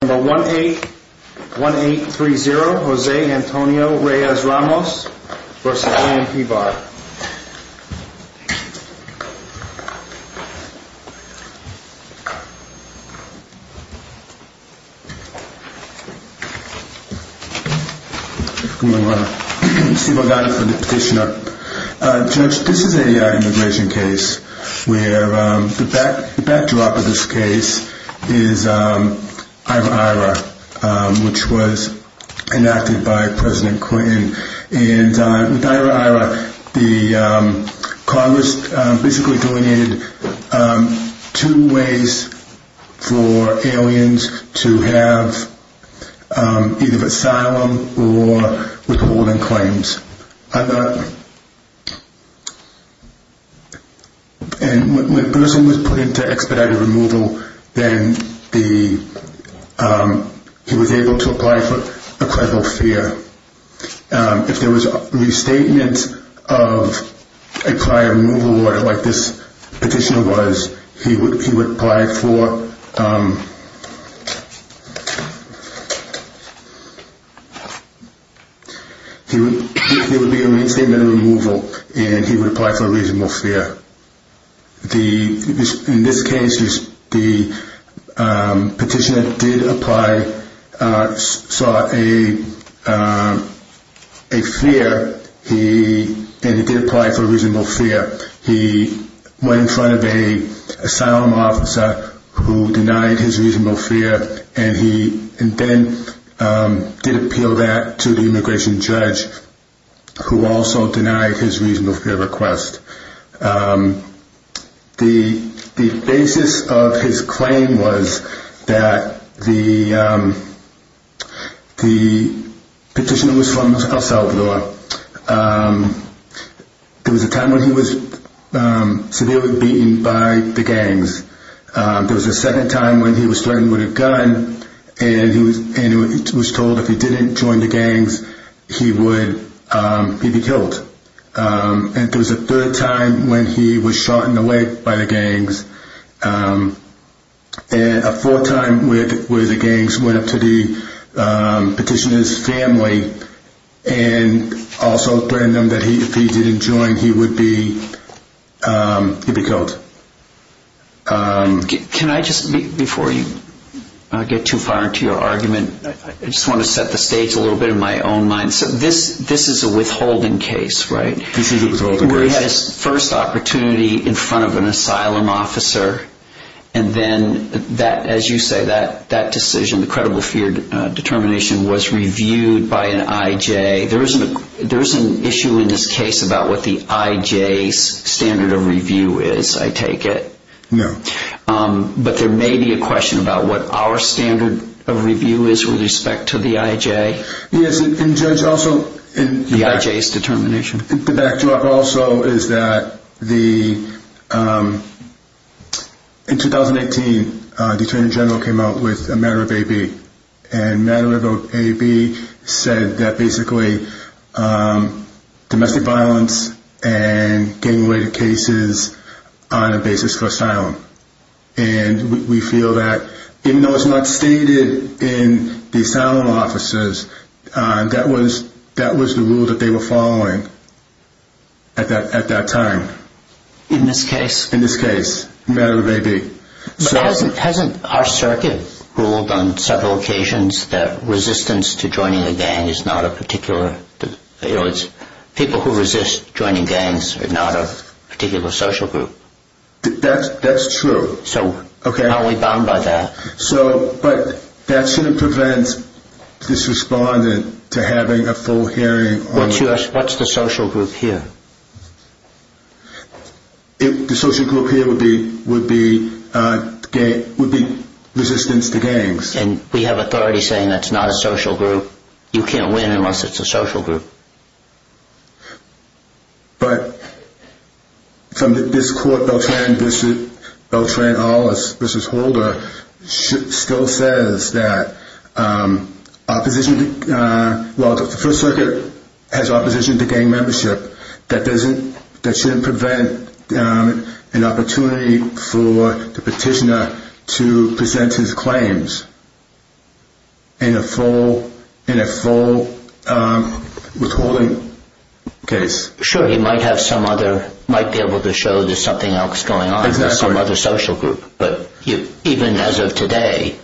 1830 Jose Antonio Reyes-Ramos v. A.M.P. Barr Judge, this is an immigration case where the backdrop of this case is Ira-Ira, which was enacted by President Clinton. And with Ira-Ira, Congress basically delineated two ways for aliens to have either asylum or withholding claims. And when a person was put into expedited removal, then he was able to apply for a credible fare. If there was a restatement of a prior removal order like this petition was, he would apply for a reasonable fare. In this case, the petitioner did apply for a reasonable fare. He went in front of an asylum officer who denied his reasonable fare, and then did appeal that to the immigration judge who also denied his reasonable fare request. The basis of his claim was that the petitioner was from El Salvador. There was a time when he was severely beaten by the gangs. There was a second time when he was threatened with a gun, and he was told if he didn't join the gangs, he would be killed. And there was a third time when he was shot in the leg by the gangs. And a fourth time where the gangs went up to the petitioner's family and also threatened them that if he didn't join, he would be killed. Can I just, before I get too far into your argument, I just want to set the stage a little bit in my own mind. This is a withholding case, right? This is a withholding case. He had his first opportunity in front of an asylum officer, and then, as you say, that decision, the credible fare determination, was reviewed by an IJ. There is an issue in this case about what the IJ's standard of review is. I take it. No. But there may be a question about what our standard of review is with respect to the IJ. Yes. And, Judge, also in the backdrop. The IJ's determination. The backdrop also is that in 2018, the Attorney General came out with a matter of AB, and matter of AB said that basically domestic violence and gang-related cases are on a basis for asylum. And we feel that even though it's not stated in the asylum officers, that was the rule that they were following at that time. In this case? In this case. Matter of AB. But hasn't our circuit ruled on several occasions that resistance to joining a gang is not a particular, people who resist joining gangs are not a particular social group? That's true. So how are we bound by that? But that shouldn't prevent this respondent to having a full hearing. What's the social group here? The social group here would be resistance to gangs. And we have authority saying that's not a social group. You can't win unless it's a social group. But from this court, Beltran v. Holder, still says that opposition, well the First Circuit has opposition to gang membership. That shouldn't prevent an opportunity for the petitioner to present his claims in a full withholding case. Sure, he might have some other, might be able to show there's something else going on in some other social group. But even as of today,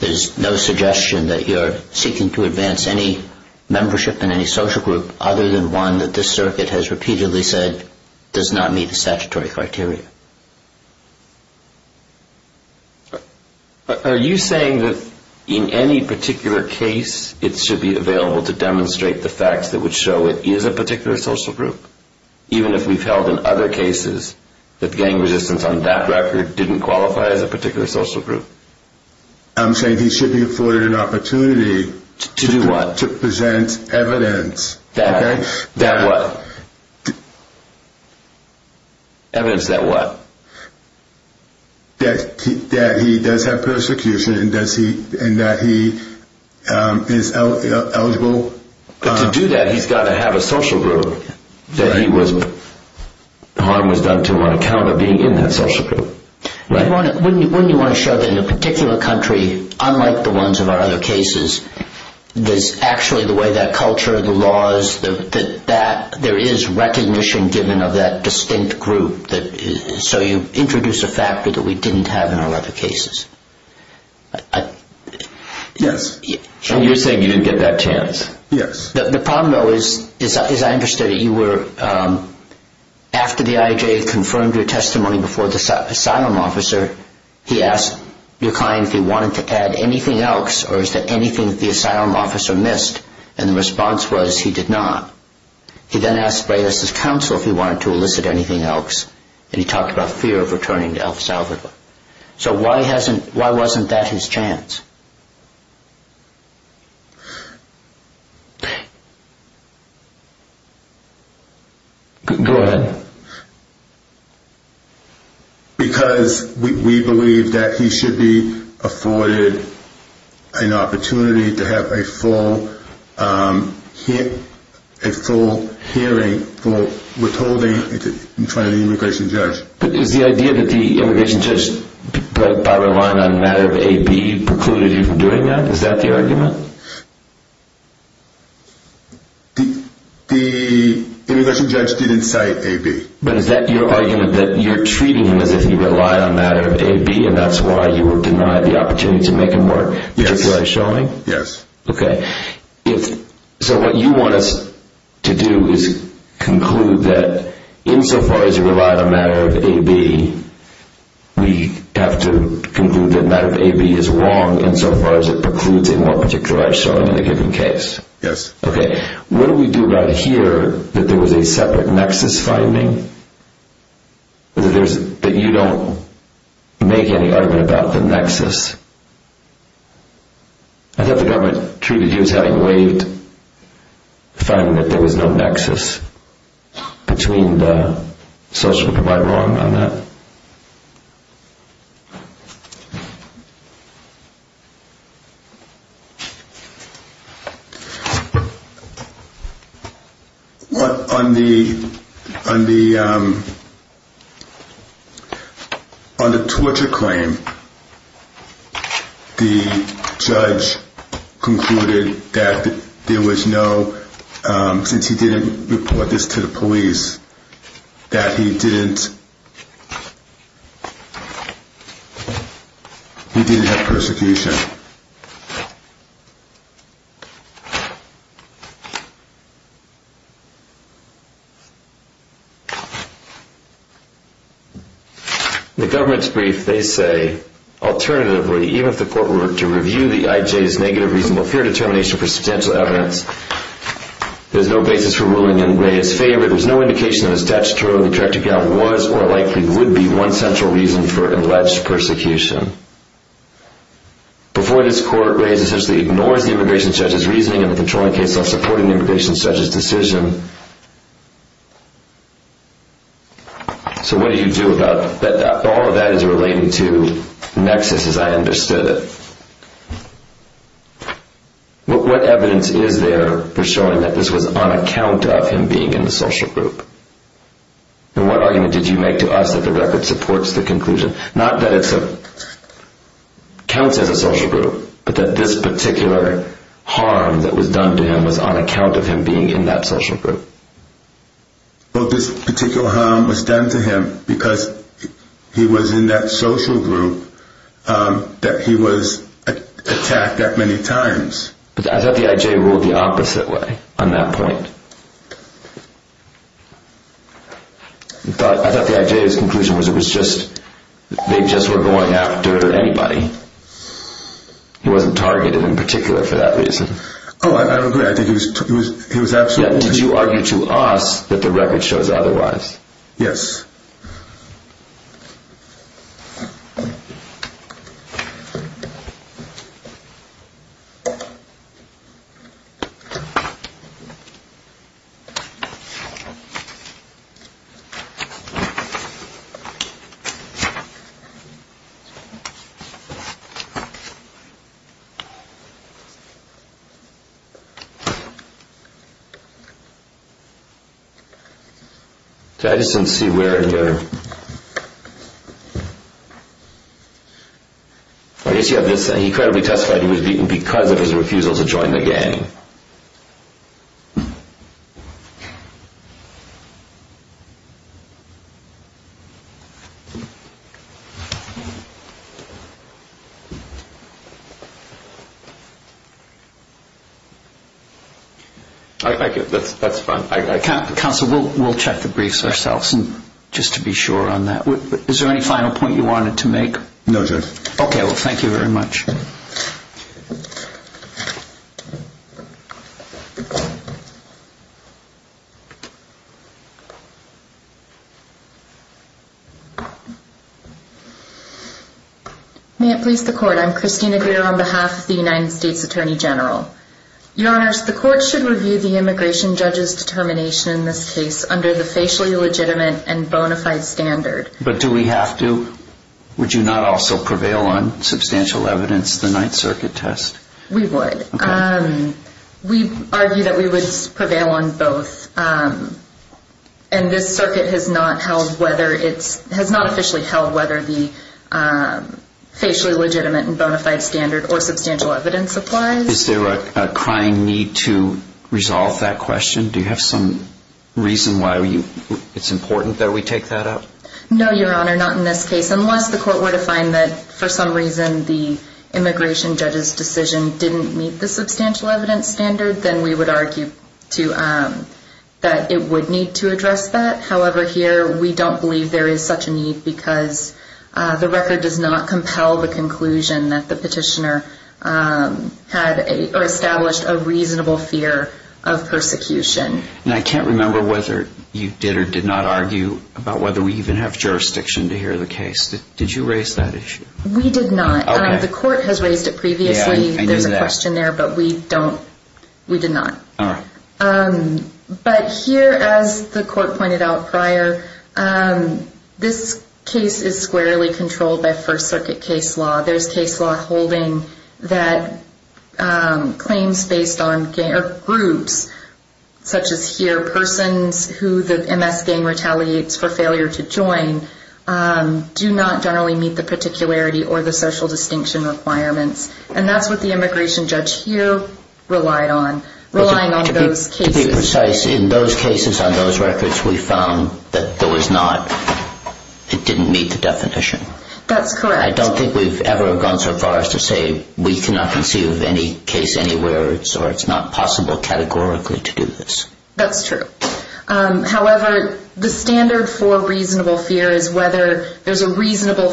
there's no suggestion that you're seeking to advance any membership in any social group other than one that this circuit has repeatedly said does not meet the statutory criteria. Are you saying that in any particular case, it should be available to demonstrate the facts that would show it is a particular social group? Even if we've held in other cases that gang resistance on that record didn't qualify as a particular social group? I'm saying he should be afforded an opportunity. To do what? To present evidence. That what? Evidence that what? That he does have persecution and that he is eligible. But to do that, he's got to have a social group that he was, harm was done to him on account of being in that social group. Wouldn't you want to show that in a particular country, unlike the ones of our other cases, there's actually the way that culture, the laws, there is recognition given of that distinct group. So you introduce a factor that we didn't have in our other cases. Yes. And you're saying you didn't get that chance? Yes. The problem, though, is I understood that you were, after the IJA confirmed your testimony before the asylum officer, he asked your client if he wanted to add anything else or is there anything that the asylum officer missed? And the response was he did not. He then asked for his counsel if he wanted to elicit anything else, and he talked about fear of returning to El Salvador. So why wasn't that his chance? Go ahead. He told me to have a full hearing, full withholding in front of the immigration judge. But is the idea that the immigration judge, by relying on a matter of AB, precluded you from doing that? Is that the argument? The immigration judge didn't cite AB. But is that your argument that you're treating him as if he relied on a matter of AB and that's why you were denied the opportunity to make him work? Yes. Particularized showing? Yes. Okay. So what you want us to do is conclude that insofar as you rely on a matter of AB, we have to conclude that a matter of AB is wrong insofar as it precludes a more particularized showing in a given case. Yes. Okay. What do we do about here that there was a separate nexus finding that you don't make any argument about the nexus? I thought the government treated you as having waived finding that there was no nexus between the social provider on that. Okay. On the torture claim, the judge concluded that there was no, since he didn't report this to the police, that he didn't have persecution. The government's brief, they say, alternatively, even if the court were to review the IJ's negative reasonable fear determination for substantial evidence, there's no basis for ruling in Reyes' favor. There's no indication of a statutorily correct account was or likely would be one central reason for alleged persecution. Before this court, Reyes essentially ignores the immigration judge's reasoning in the controlling case of supporting the immigration judge's decision. So what do you do about that? All of that is relating to nexus as I understood it. What evidence is there for showing that this was on account of him being in the social group? And what argument did you make to us that the record supports the conclusion? Not that it counts as a social group, but that this particular harm that was done to him was on account of him being in that social group. Well, this particular harm was done to him because he was in that social group that he was attacked that many times. I thought the IJ ruled the opposite way on that point. I thought the IJ's conclusion was it was just they just were going after anybody. He wasn't targeted in particular for that reason. Oh, I agree. I think he was absolutely right. Did you argue to us that the record shows otherwise? Yes. Thank you. I just didn't see where... He credibly testified he was beaten because of his refusal to join the gang. That's fine. Counsel, we'll check the briefs ourselves just to be sure on that. Is there any final point you wanted to make? No, Judge. Okay. Well, thank you very much. May it please the Court. I'm Christina Greer on behalf of the United States Attorney General. Your Honors, the Court should review the immigration judge's determination in this case under the facially legitimate and bona fide standard. But do we have to? Would you not also prevail on substantial evidence, the Ninth Circuit test? We would. We argue that we would prevail on both. And this circuit has not held whether it's... has not officially held whether the facially legitimate and bona fide standard or substantial evidence applies. Is there a crying need to resolve that question? Do you have some reason why it's important that we take that up? No, Your Honor, not in this case. Unless the Court were to find that, for some reason, the immigration judge's decision didn't meet the substantial evidence standard, then we would argue that it would need to address that. However, here, we don't believe there is such a need because the record does not compel the conclusion that the petitioner had or established a reasonable fear of persecution. And I can't remember whether you did or did not argue about whether we even have jurisdiction to hear the case. Did you raise that issue? We did not. Okay. The Court has raised it previously. Yeah, I knew that. There's a question there, but we don't... we did not. All right. But here, as the Court pointed out prior, this case is squarely controlled by First Circuit case law. There's case law holding that claims based on groups, such as here, persons who the MS gang retaliates for failure to join, do not generally meet the particularity or the social distinction requirements. And that's what the immigration judge here relied on, relying on those cases. To be precise, in those cases, on those records, we found that there was not... it didn't meet the definition. That's correct. I don't think we've ever gone so far as to say we cannot conceive of any case anywhere, or it's not possible categorically to do this. That's true. However, the standard for reasonable fear is whether there's a reasonable...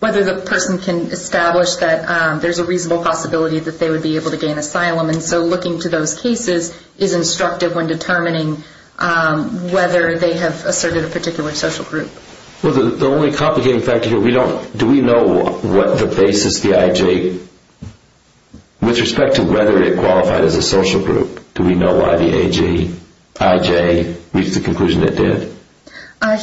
whether the person can establish that there's a reasonable possibility that they would be able to gain asylum. And so looking to those cases is instructive when determining whether they have asserted a particular social group. Well, the only complicating fact here, we don't... do we know what the basis of the IJ... with respect to whether it qualified as a social group, do we know why the IJ reached the conclusion it did?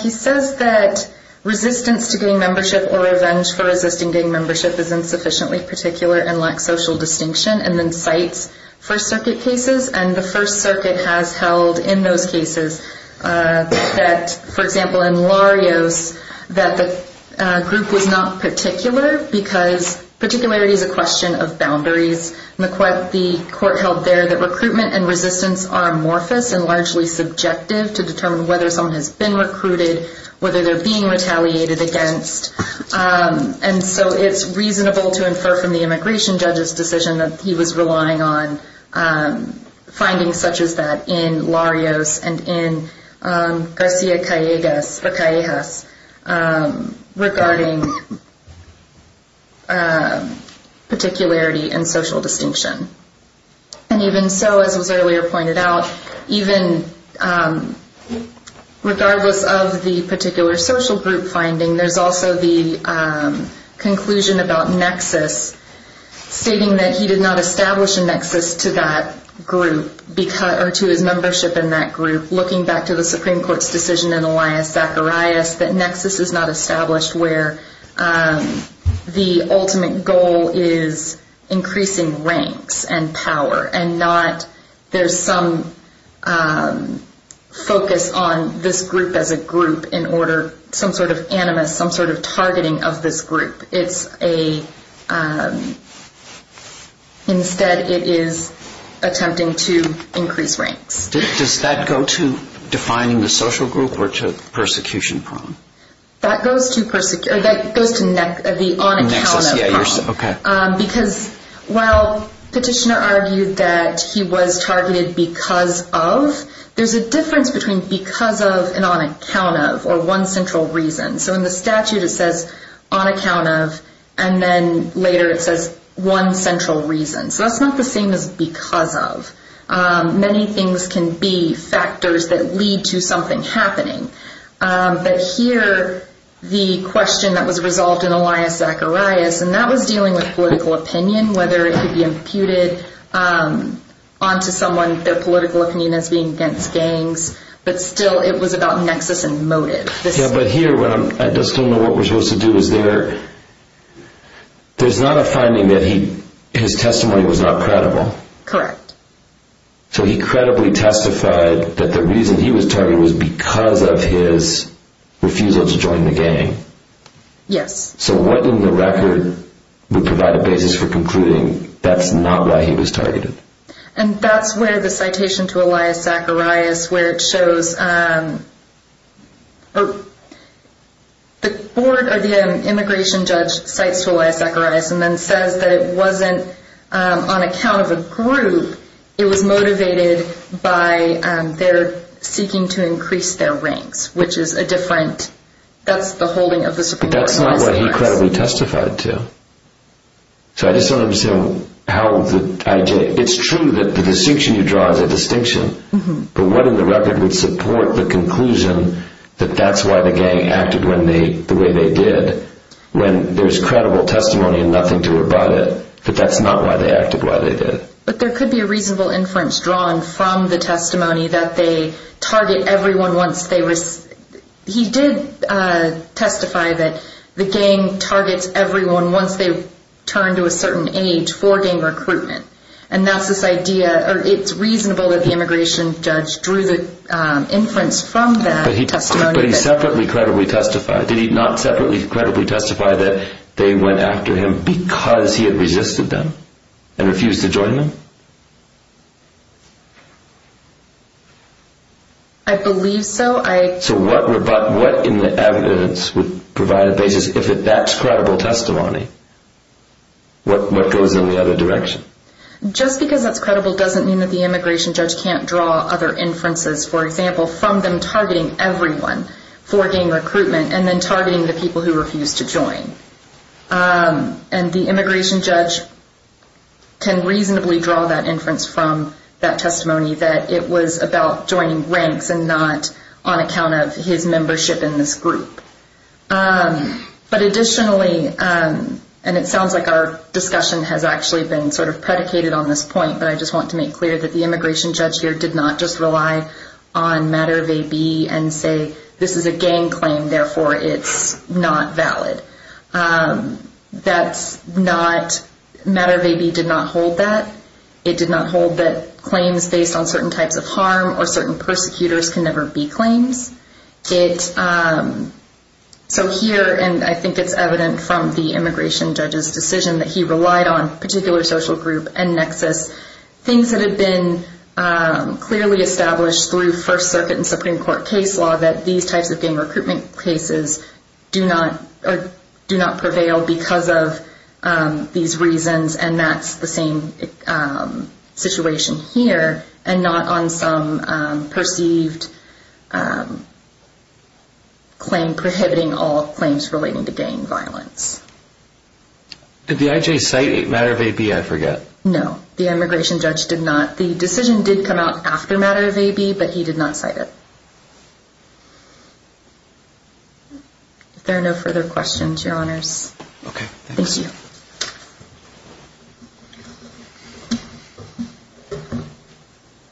He says that resistance to gang membership or revenge for resisting gang membership is insufficiently particular and lacks social distinction, and then cites First Circuit cases. And the First Circuit has held in those cases that, for example, in Larios, that the group was not particular because particularity is a question of boundaries. And the court held there that recruitment and resistance are amorphous and largely subjective to determine whether someone has been recruited, whether they're being retaliated against. And so it's reasonable to infer from the immigration judge's decision that he was relying on findings such as that in Larios and in Garcia-Callejas regarding particularity and social distinction. And even so, as was earlier pointed out, even regardless of the particular social group finding, there's also the conclusion about nexus, stating that he did not establish a nexus to that group, or to his membership in that group. Looking back to the Supreme Court's decision in Elias-Zacharias, that nexus is not established where the ultimate goal is increasing ranks and power and not there's some focus on this group as a group in order some sort of animus, some sort of targeting of this group. Instead, it is attempting to increase ranks. Does that go to defining the social group or to the persecution problem? That goes to the on-account-of problem. Because while Petitioner argued that he was targeted because of, there's a difference between because of and on account of, or one central reason. So in the statute it says on account of, and then later it says one central reason. So that's not the same as because of. Many things can be factors that lead to something happening. But here, the question that was resolved in Elias-Zacharias, and that was dealing with political opinion, whether it could be imputed onto someone, their political opinion as being against gangs, but still it was about nexus and motive. But here, I just don't know what we're supposed to do. There's not a finding that his testimony was not credible. Correct. So he credibly testified that the reason he was targeted was because of his refusal to join the gang. Yes. So what in the record would provide a basis for concluding that's not why he was targeted? And that's where the citation to Elias-Zacharias, where it shows the immigration judge cites to Elias-Zacharias and then says that it wasn't on account of a group. It was motivated by their seeking to increase their ranks, which is a different, that's the holding of the Supreme Court. But that's not what he credibly testified to. So I just don't understand how the, it's true that the distinction you draw is a distinction, but what in the record would support the conclusion that that's why the gang acted the way they did when there's credible testimony and nothing to it about it, that that's not why they acted the way they did? But there could be a reasonable inference drawn from the testimony that they target everyone once they, he did testify that the gang targets everyone once they've turned to a certain age for gang recruitment. And that's this idea, or it's reasonable that the immigration judge drew the inference from that testimony. But he separately credibly testified. Did he not separately credibly testify that they went after him because he had resisted them and refused to join them? I believe so. So what in the evidence would provide a basis, if that's credible testimony, what goes in the other direction? Just because that's credible doesn't mean that the immigration judge can't draw other inferences, for example, from them targeting everyone for gang recruitment and then targeting the people who refuse to join. And the immigration judge can reasonably draw that inference from that testimony that it was about joining ranks and not on account of his membership in this group. But additionally, and it sounds like our discussion has actually been sort of predicated on this point, but I just want to make clear that the immigration judge here did not just rely on matter of AB and say this is a gang claim, therefore it's not valid. That's not, matter of AB did not hold that. It did not hold that claims based on certain types of harm or certain persecutors can never be claims. So here, and I think it's evident from the immigration judge's decision that he relied on particular social group and nexus, things that had been clearly established through First Circuit and Supreme Court case law that these types of gang recruitment cases do not prevail because of these reasons, and that's the same situation here and not on some perceived claim prohibiting all claims relating to gang violence. Did the IJ cite matter of AB, I forget? No, the immigration judge did not. The decision did come out after matter of AB, but he did not cite it. If there are no further questions, your honors. Okay, thank you. Thank you. Thank you.